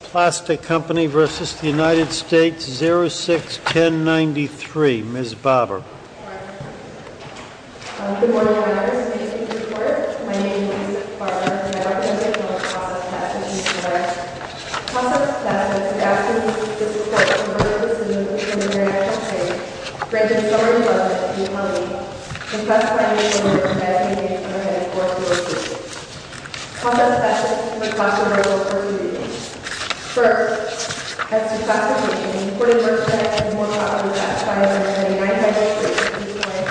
Plastic Company v. United States, 06-1093. Ms. Barber. Good morning, my name is Lisa Barber, and I represent the process task force in the United States. The process task force would ask Ms. Barber to make a decision based on the very actual case, granted by Ms. Barber to the Attorney, and pressed by Ms. Barber to enact a case under heading 4202. The process task force is responsible for three reasons. First, as to plastic packaging, according to her statement, it is more profitable to buy and maintain a United States product at this point,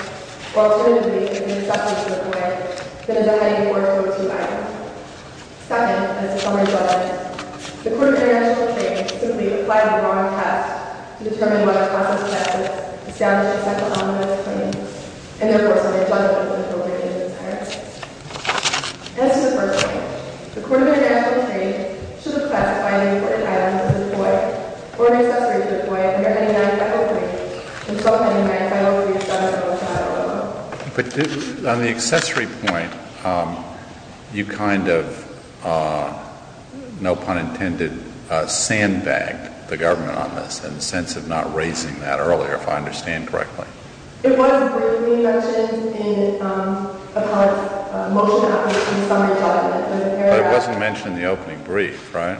or alternatively, to make an exception to the claim, than in the heading 4202 item. Second, as a summary judgment, the Court of International Trade simply applied the wrong test to determine whether the process task force established the second column of its claim, and therefore, submitted a judgment with appropriate inconsistencies. As to the first point, the Court of International Trade should request that by any imported items that are deployed, or any accessories deployed, under heading 903, to install them in the United States, 06-1093. But on the accessory point, you kind of, no pun intended, sandbagged the government on this, in the sense of not raising that earlier, if I understand correctly. It was briefly mentioned in a part of the motion that was in the summary judgment. But it wasn't mentioned in the opening brief, right?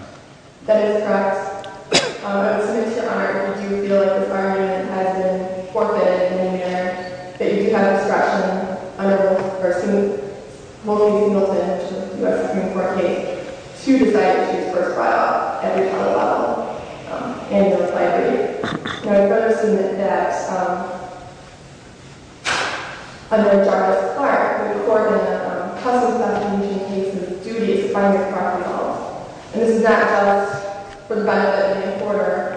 That is correct. I would submit to Your Honor that we do feel that this argument has been forfeited in the manner that you have expressed, under the version of a multi-singleton U.S. Supreme Court case, to the fact that she was first brought up at the federal level in the library. And I would further submit that, under Jarvis Clark, the court had a custom classification of duties under the property law. And this is not just for the benefit of the importer,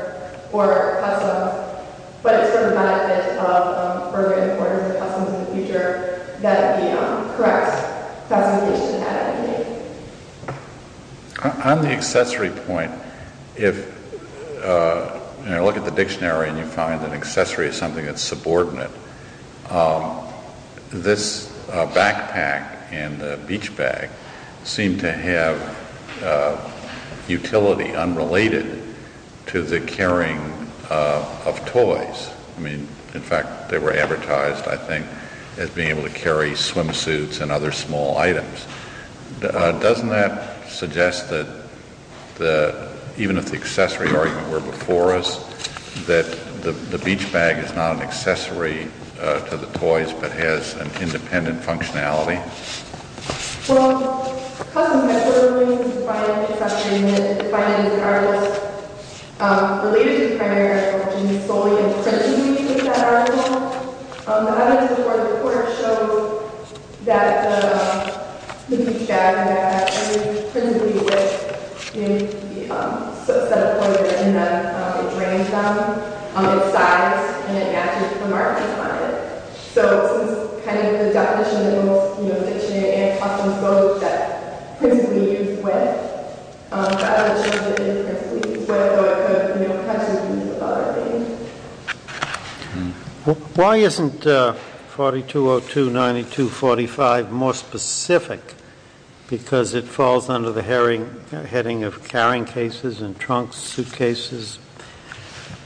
or customs, but it's for the benefit of urban importers and customs in the future, that the correct classification had been made. On the accessory point, if you look at the dictionary and you find that accessory is something that's subordinate, this backpack and the beach bag seem to have utility unrelated to the carrying of toys. I mean, in fact, they were advertised, I think, as being able to carry swimsuits and other small items. Doesn't that suggest that, even if the accessory argument were before us, that the beach bag is not an accessory to the toys, but has an independent functionality? Well, the custom definition of duties is defined in the dictionary, and it's defined in the articles. But, related to the primary question, solely in principally, is that article. The evidence before the court shows that the beach bag and the backpack are principally with a set of toys in them. It drains them, it sighs, and it matches the markings on it. So, this is kind of the definition in the dictionary and customs both, that principally is with. But, I don't know if it shows that it principally is with, but the question is about it being. Why isn't 4202.92.45 more specific? Because it falls under the heading of carrying cases and trunks, suitcases,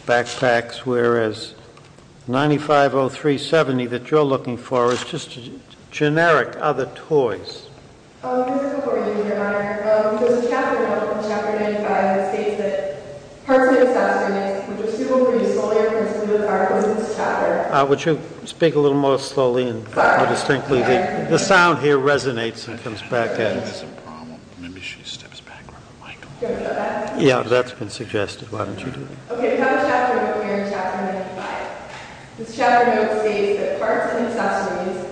backpacks. Whereas, 9503.70 that you're looking for is just generic other toys. Would you speak a little more slowly and more distinctly? The sound here resonates and comes back. Yeah, that's been suggested. Why don't you do it? This chapter note states that parts and accessories,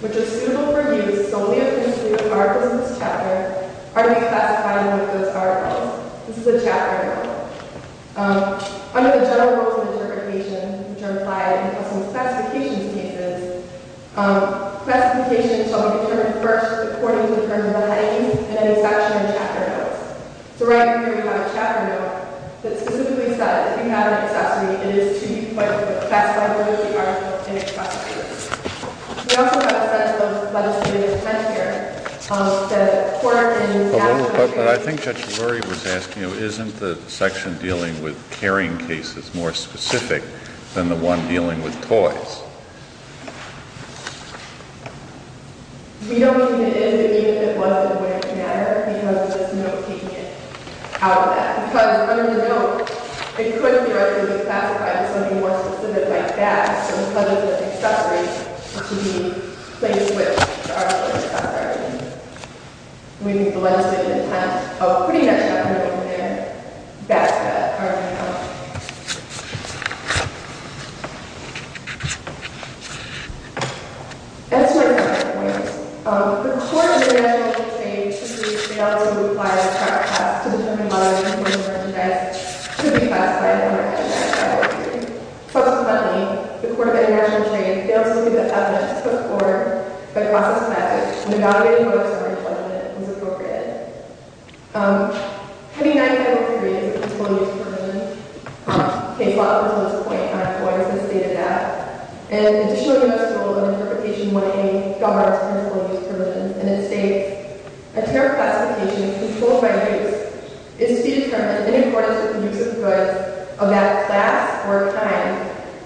which are suitable for use solely officially with articles in this chapter, are to be classified with those articles. This is a chapter note. Under the general rules of interpretation, which are implied in custom classifications cases, classifications shall be determined first according to the terms of the headings and any section in chapter notes. So right here we have a chapter note that specifically says, if you have an accessory, it is to be classified with the article in its classification. We also have a section on legislative intent here. But I think Judge Lurie was asking, isn't the section dealing with carrying cases more specific than the one dealing with toys? We don't even indicate if it was or wouldn't matter because this note is taking it out of that. Because under the note, it could theoretically be classified with something more specific like that, so instead of the accessory, it should be placed with the article in its classification. We need the legislative intent of putting that chapter note in there. That's the argument I want to make. As to our counterpoint, the court in the National Court of Appeals failed to apply the proper class to determine whether an important merchandise should be classified under a merchandise category. Consequently, the court in the National Court of Appeals failed to give evidence to the court by process of statute when evaluating whether a certain element was appropriated. Having 90 federal periods of employee dispersion case law up until this point on employers has stated that. An additional notice of interpretation 1A governs employee dispersion, and it states, a terror classification controlled by use is to be determined in accordance with the use of goods of that class or time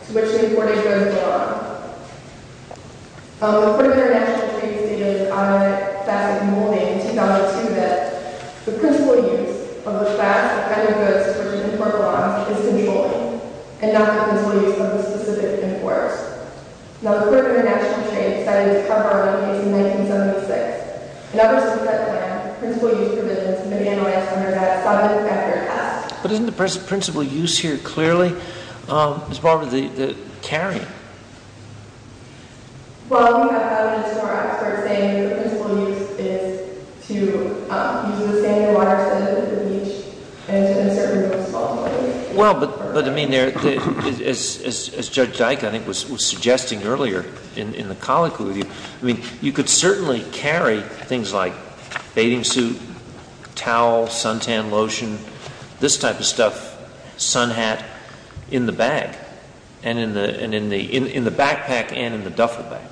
to which the employee goes along. The court in the National Court of Appeals stated in its automatic classic mulling in 2002 that the principal use of the class or kind of goods to which the employer belongs is controlling, and not the principal use of the specific imports. Now, the court in the National Court of Appeals decided to cover up a case in 1976. In other states that land, principal use provisions may be analyzed under that subject matter class. But isn't the principal use here clearly as far as the carrying? Well, we have evidence from our experts saying that the principal use is to use the standing waters of the beach and to insert imports of all kinds. Well, but, I mean, as Judge Dyke, I think, was suggesting earlier in the colloquy, I mean, you could certainly carry things like bathing suit, towel, suntan lotion, this type of stuff, sun hat, in the bag. And in the backpack and in the duffel bag.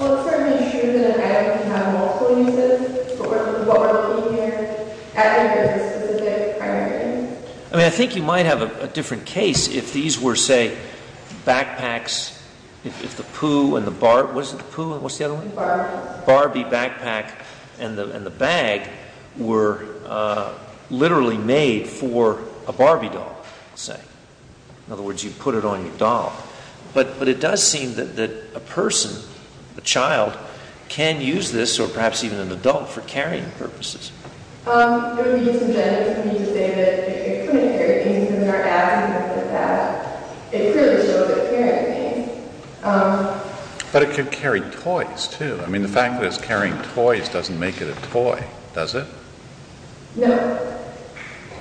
Well, it's certainly true that a bag can have multiple uses. But what we're looking here at is the specific primary use. I mean, I think you might have a different case if these were, say, backpacks, if the poo and the barbie, what's the other one? Barbie. Barbie backpack and the bag were literally made for a Barbie doll, say. In other words, you put it on your doll. But it does seem that a person, a child, can use this, or perhaps even an adult, for carrying purposes. It would be disingenuous for me to say that it couldn't carry things in their ass and stuff like that. It clearly shows that it can carry things. But it could carry toys, too. I mean, the fact that it's carrying toys doesn't make it a toy, does it? No.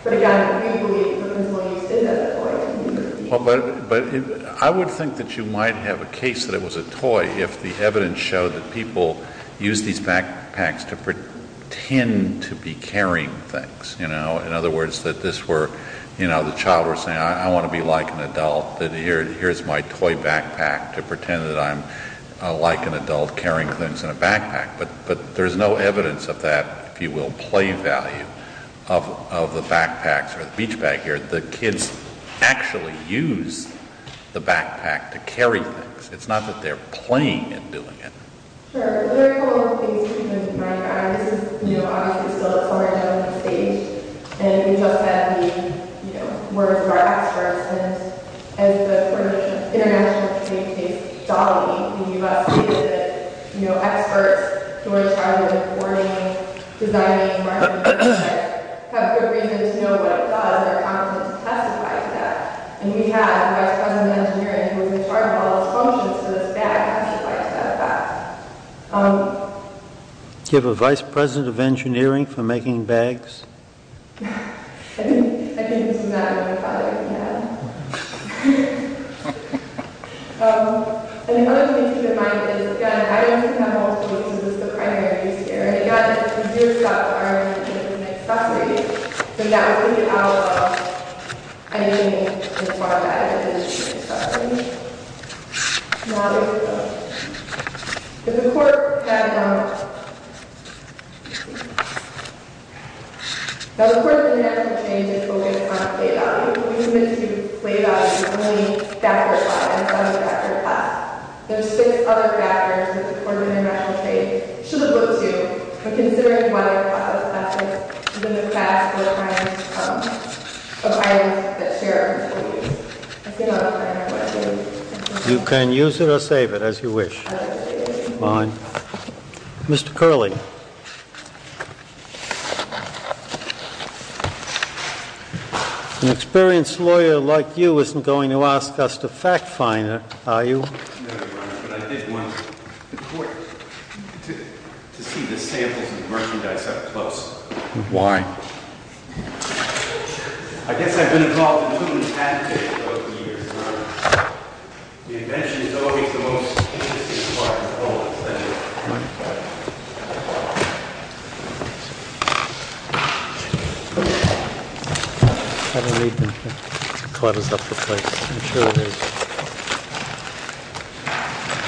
But, again, we believe that it could be used as a toy. But I would think that you might have a case that it was a toy if the evidence showed that people used these backpacks to pretend to be carrying things. In other words, that this were, you know, the child was saying, I want to be like an adult. Here's my toy backpack to pretend that I'm like an adult carrying things in a backpack. But there's no evidence of that, if you will, play value of the backpacks or the beach bag here. The kids actually use the backpack to carry things. It's not that they're playing in doing it. Sure. Is there a couple of things you can point out? I mean, this is, you know, obviously still a summer development stage. And you just had the, you know, words of our experts. And as the international trade case, Dolly, can give us, you know, experts who are traveling and boarding, designing and marketing projects, have good reason to know what it does. They're competent to testify to that. And we had a vice president of engineering who was in charge of all the functions of this bag testified to that fact. Do you have a vice president of engineering for making bags? I think this is not a good topic to have. And another thing to keep in mind is, again, I don't have all the solutions. This is the primaries here. And again, this is your stop bar. And it's an accessory. So you have to get out of engineering as far as it is an accessory. There's a court that, you know, the court of international trade is focused on play value. We commit to play value only backward-wise, only backward-class. There are six other factors that the court of international trade should look to when considering why a class of classes is in the class of items that share our responsibilities. You can use it or save it as you wish. Fine. Mr. Curley, an experienced lawyer like you isn't going to ask us to fact find it, are you? No, Your Honor, but I did want the court to see the samples of the merchandise up close. Why? I guess I've been involved in too many tactics over the years, Your Honor. The invention is always the most interesting part of all, isn't it? I don't need them here. It's quite a separate place. I'm sure it is.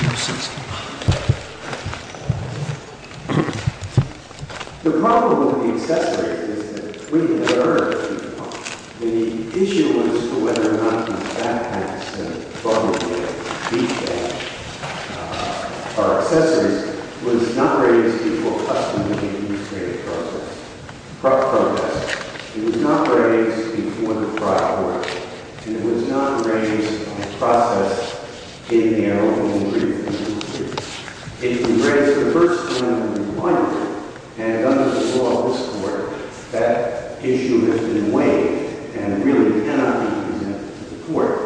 Your sentence, Your Honor. The problem with the accessories is that we've never heard of them before. The issue as to whether or not these backpacks, these bags are accessories was not raised before customary administrative process. It was not raised before the prior court. And it was not raised in the process of getting the arrow from the tree. It was raised for the first time in my time. And under the law of this court, that issue has been waived and really cannot be presented to the court.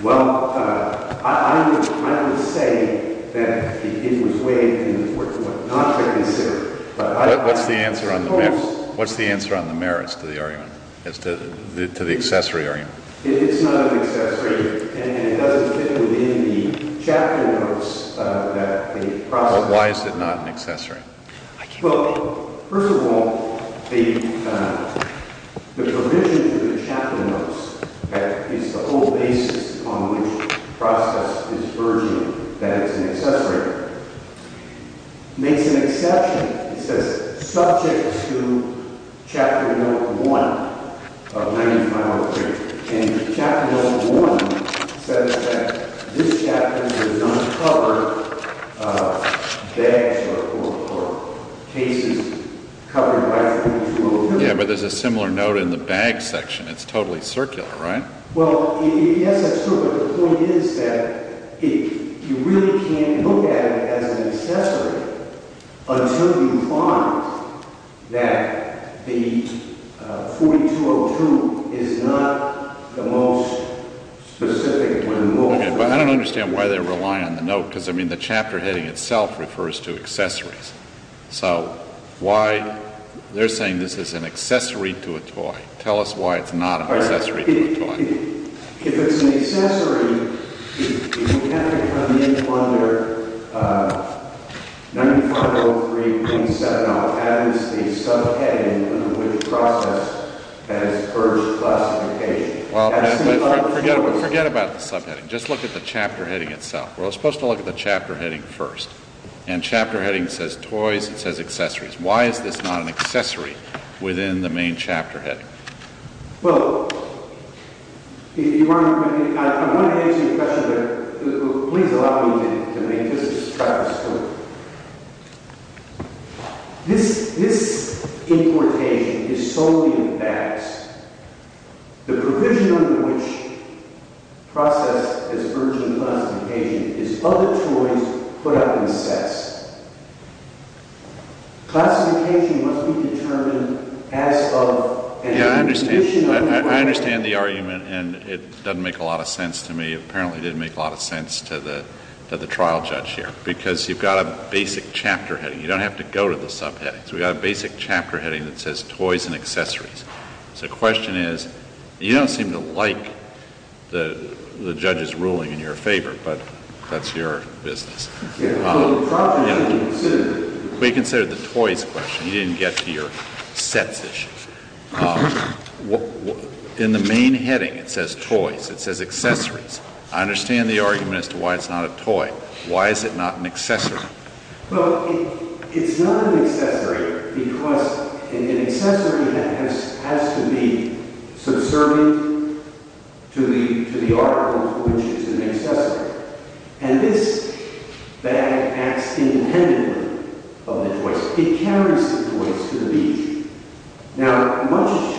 Well, I would say that it was waived and not reconsidered. What's the answer on the merits to the argument, to the accessory argument? It's not an accessory, and it doesn't fit within the chapter notes that the process… Why is it not an accessory? Well, first of all, the provision in the chapter notes is the whole basis on which the process is urging that it's an accessory. It makes an exception. It says, subject to chapter note 1 of 95 over here. And chapter note 1 says that this chapter does not cover bags or cases covered by… Yeah, but there's a similar note in the bag section. It's totally circular, right? Well, yes, that's true, but the point is that you really can't look at it as an accessory until you find that the 4202 is not the most specific or the most… Okay. But I don't understand why they're relying on the note, because, I mean, the chapter heading itself refers to accessories. So why they're saying this is an accessory to a toy. Tell us why it's not an accessory to a toy. If it's an accessory, you have to come in under 9503.7. It has the subheading on which the process has urged classification. Well, forget about the subheading. Just look at the chapter heading itself. We're supposed to look at the chapter heading first. And chapter heading says toys. It says accessories. Why is this not an accessory within the main chapter heading? Well, if you want to… I'm going to answer your question, but please allow me to make this. This is Travis Stewart. This importation is solely of bags. The provision under which process has urged classification is other toys put up in sets. Classification must be determined as of… Yeah, I understand the argument, and it doesn't make a lot of sense to me. It apparently didn't make a lot of sense to the trial judge here, because you've got a basic chapter heading. You don't have to go to the subheadings. We've got a basic chapter heading that says toys and accessories. So the question is, you don't seem to like the judge's ruling in your favor, but that's your business. Yeah, well, the problem is… We considered the toys question. You didn't get to your sets issue. In the main heading, it says toys. It says accessories. I understand the argument as to why it's not a toy. Why is it not an accessory? Well, it's not an accessory because an accessory has to be subservient to the article to which it's an accessory. And this bag acts independently of the toys. It carries the toys to the beach. Now, much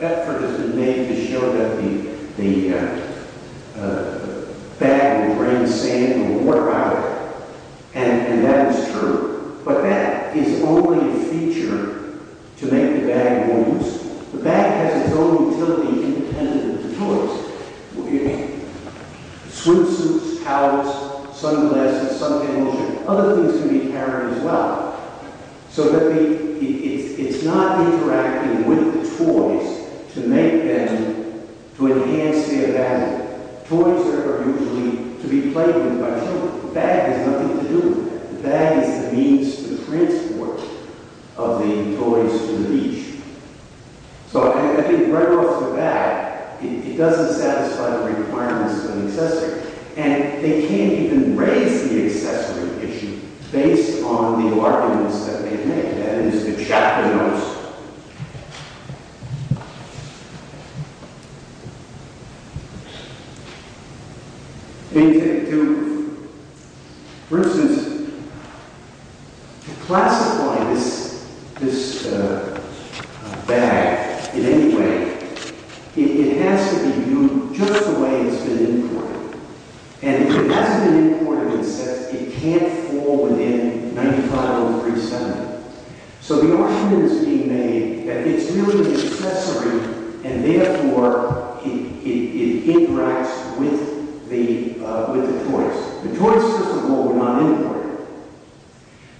effort has been made to show that the bag will bring sand and water out, and that is true. But that is only a feature to make the bag more useful. The bag has its own utility independent of the toys. Swimsuits, towels, sunglasses, sunglasses, other things can be carried as well. So it's not interacting with the toys to make them, to enhance their value. Toys are usually to be played with by children. The bag has nothing to do with that. The bag is the means to transport of the toys to the beach. So I think right off the bat, it doesn't satisfy the requirements of an accessory. And they can't even raise the accessory issue based on the arguments that they make. That is the chapter notes. For instance, to classify this bag in any way, it has to be viewed just the way it's been imported. And if it hasn't been imported, it can't fall within 95037. So the argument is being made that it's really an accessory, and therefore it interacts with the toys. The toys, for example, were not imported.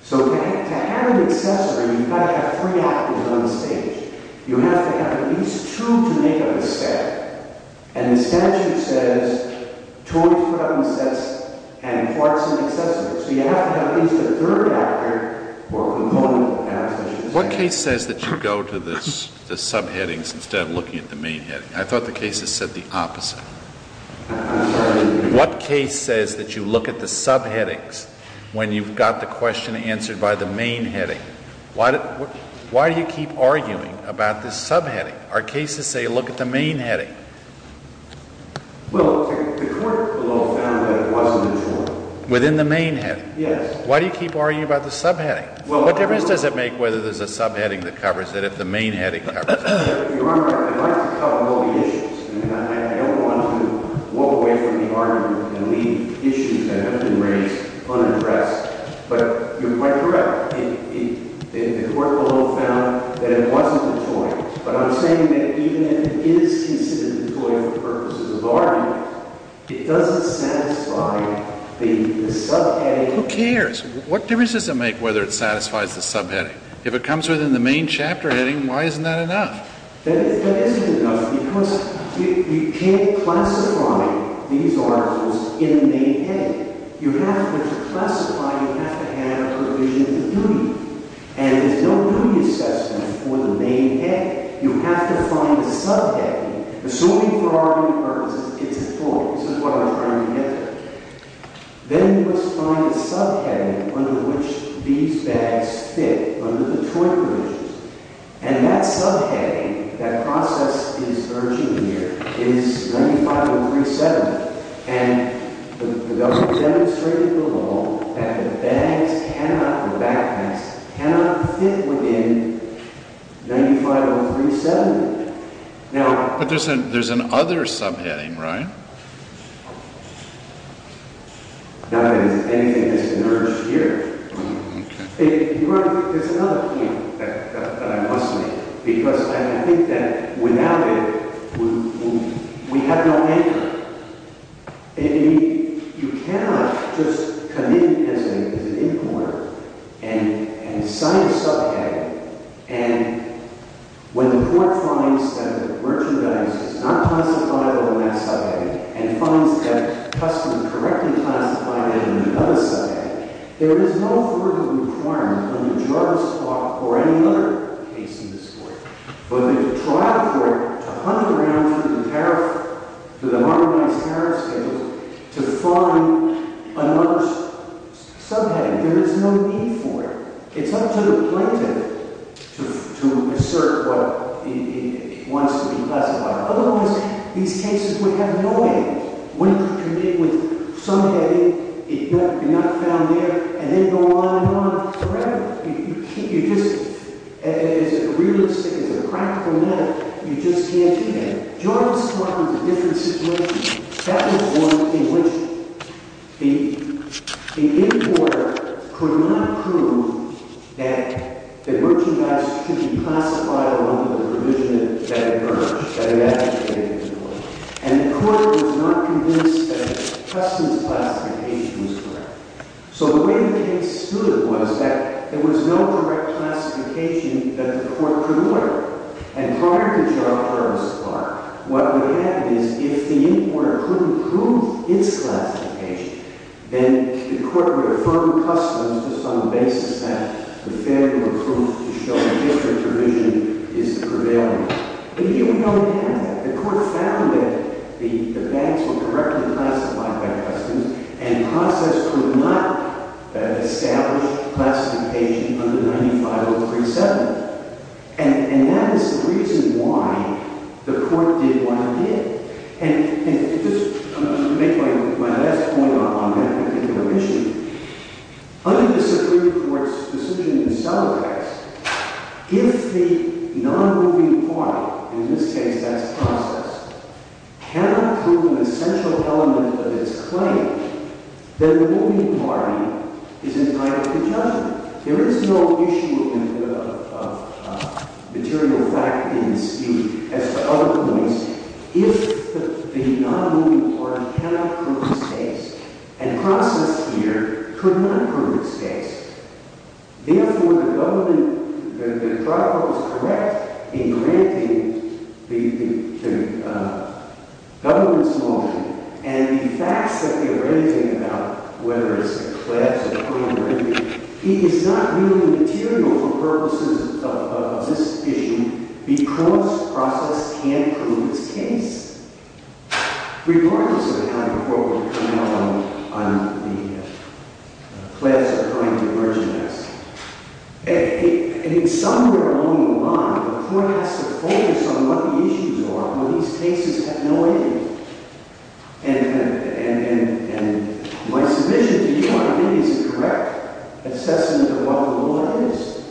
So to have an accessory, you've got to have three actors on the stage. You have to have at least two to make up a set. And the statute says, toys put up in sets have parts and accessories. So you have to have at least a third actor or a component of an accessory. What case says that you go to the subheadings instead of looking at the main heading? I thought the case has said the opposite. I'm sorry. What case says that you look at the subheadings when you've got the question answered by the main heading? Why do you keep arguing about this subheading? Our cases say look at the main heading. Well, the court below found that it wasn't a toy. Within the main heading? Yes. Why do you keep arguing about the subheading? What difference does it make whether there's a subheading that covers it, if the main heading covers it? Your Honor, I'd like to cover all the issues. I don't want to walk away from the argument and leave issues that have been raised unaddressed. But you're quite correct. The court below found that it wasn't a toy. But I'm saying that even if it is considered a toy for the purposes of argument, it doesn't satisfy the subheading. Who cares? What difference does it make whether it satisfies the subheading? If it comes within the main chapter heading, why isn't that enough? That isn't enough because you can't classify these articles in the main heading. You have to classify. You have to have a provision of duty. And there's no duty assessment for the main heading. You have to find a subheading. Assuming for argument purposes, it's a toy. This is what I'm trying to get to. Then you must find a subheading under which these bags fit under the toy provisions. And that subheading, that process is urgent here. It is 950370. The government demonstrated below that the bags cannot, the backpacks, cannot fit within 950370. But there's an other subheading, right? Not that anything has emerged here. There's another point that I must make because I think that without it, we have no anchor. You cannot just commit as an importer and sign a subheading, and when the port finds that the merchandise is not classified under that subheading and finds that customs correctly classified it under another subheading, there is no further requirement under Jarvis law or any other case in this court for the trial court to hunt around through the merchandise tariff schedule to find another subheading. There is no need for it. It's up to the plaintiff to assert what it wants to be classified. Otherwise, these cases would have no aim. When you commit with subheading, you're not found there, and then go on and on forever. You just, as a realistic, as a practical matter, you just can't do that. Jarvis law is a different situation. That was one in which the importer could not prove that the merchandise could be classified under the provision that emerged, that he advocated for, and the court was not convinced that the customs classification was correct. So the way the case stood was that there was no direct classification that the court could order, and prior to Jarvis law, what we had is if the importer couldn't prove its classification, then the court would affirm customs just on the basis that the failure to prove, to show the history provision is prevailing. But even though it had, the court found that the bags were correctly classified by customs and the process could not establish classification under 95037. And that is the reason why the court did what it did. And just to make my last point on that particular issue, under the Supreme Court's decision in Celerax, if the non-moving party, in this case that's process, cannot prove an essential element of its claim, then the moving party is entitled to judgment. There is no issue of material fact in the speech. As to other points, if the non-moving party cannot prove its case, and process here could not prove its case, therefore the government, the trial was correct in granting the government's motion, and the facts that they were writing about, whether it's the clebs or the commoners, he is not really material for purposes of this issue because process can't prove its case, regardless of how the court would come out on the clebs are going to emerge next. And somewhere along the line, the court has to focus on what the issues are when these cases have no evidence. And my submission to you, I think, is a correct assessment of what the law is.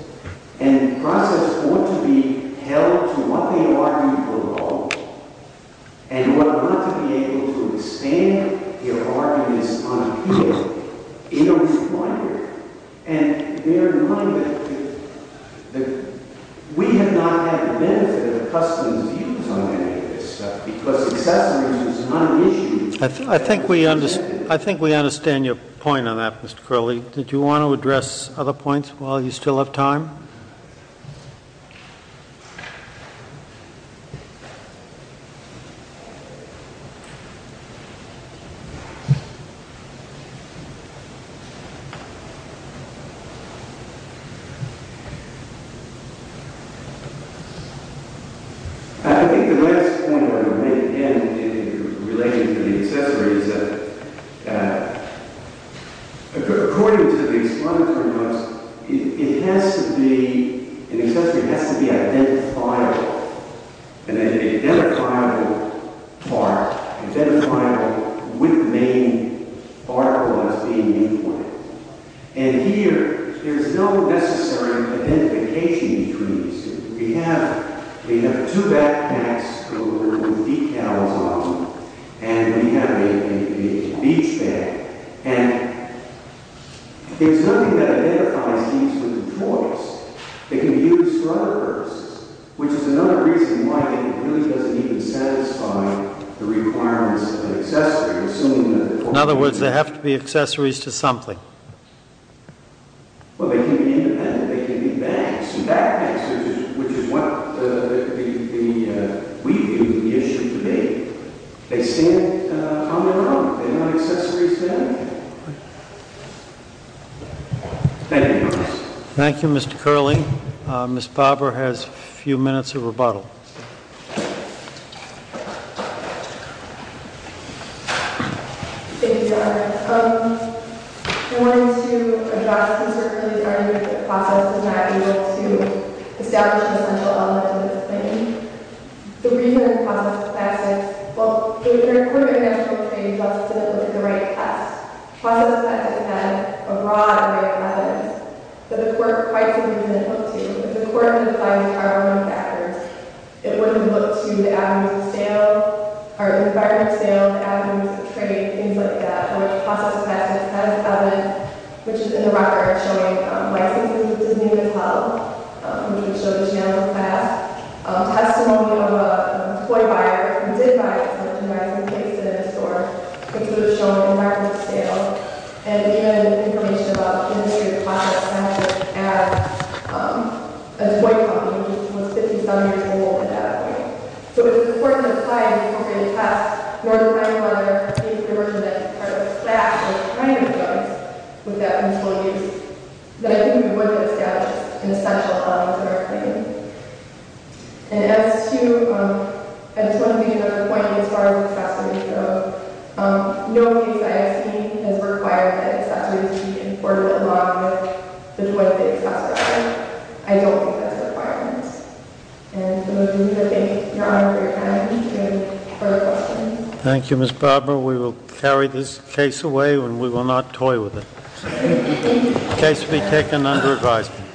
And process ought to be held to what they argue for the law, and ought not to be able to expand their arguments on appeal. It is required. And bear in mind that we have not had the benefit of customs duties on any of this stuff because the assessment is not an issue. I think we understand your point on that, Mr. Crowley. Did you want to address other points while you still have time? I think the last point I would make, again, in relation to the accessory, is that, according to the explanatory notes, it has to be, an accessory has to be identifiable. An identifiable part, identifiable with the main article as being the point. And here, there is no necessary identification between these two. We have two backpacks filled with decals on them, and we have a beach bag. And it's nothing that identifies these with a choice. They can be used for other purposes, which is another reason why it really doesn't even satisfy the requirements of an accessory, assuming that the court has agreed to it. In other words, they have to be accessories to something. Well, they can be independent. They can be bags and backpacks, which is what we view the issue to be. They stand on their own. They're not accessories to anything. Thank you. Thank you, Mr. Crowley. Ms. Barber has a few minutes of rebuttal. Thank you, Your Honor. I wanted to address, the process was not able to establish an essential element of the claim. The reason the process of passing, well, if there were a court of international trade, the process would look at the right test. The process of passing had a broad right of residence, but the court quite simply didn't look to. If the court had defined the R1 factors, it wouldn't look to the avenues of sale, or the environment of sale, the avenues of trade, things like that. The process of passing has an element, which is in the record, showing licensing, which is new and held. We can show this now in the past. Testimony of an employee buyer who did buy something, whether it's from a case in a store, which would have shown the environment of sale, and even information about the industry of the process of passing, as an employee company, which was 57 years old at that point. So if the court had defined the appropriate test, or the right of order, if there were to have been a class or kind of judge with that control case, then I think we would have established an essential element of our claim. And as to, I just want to make another point as far as accessories go, no case I have seen has required that accessories be imported along with the toy that they expected. I don't think that's a requirement. And I want to thank your Honor for your time Thank you, Ms. Barber. We will carry this case away and we will not toy with it. The case will be taken under advisement.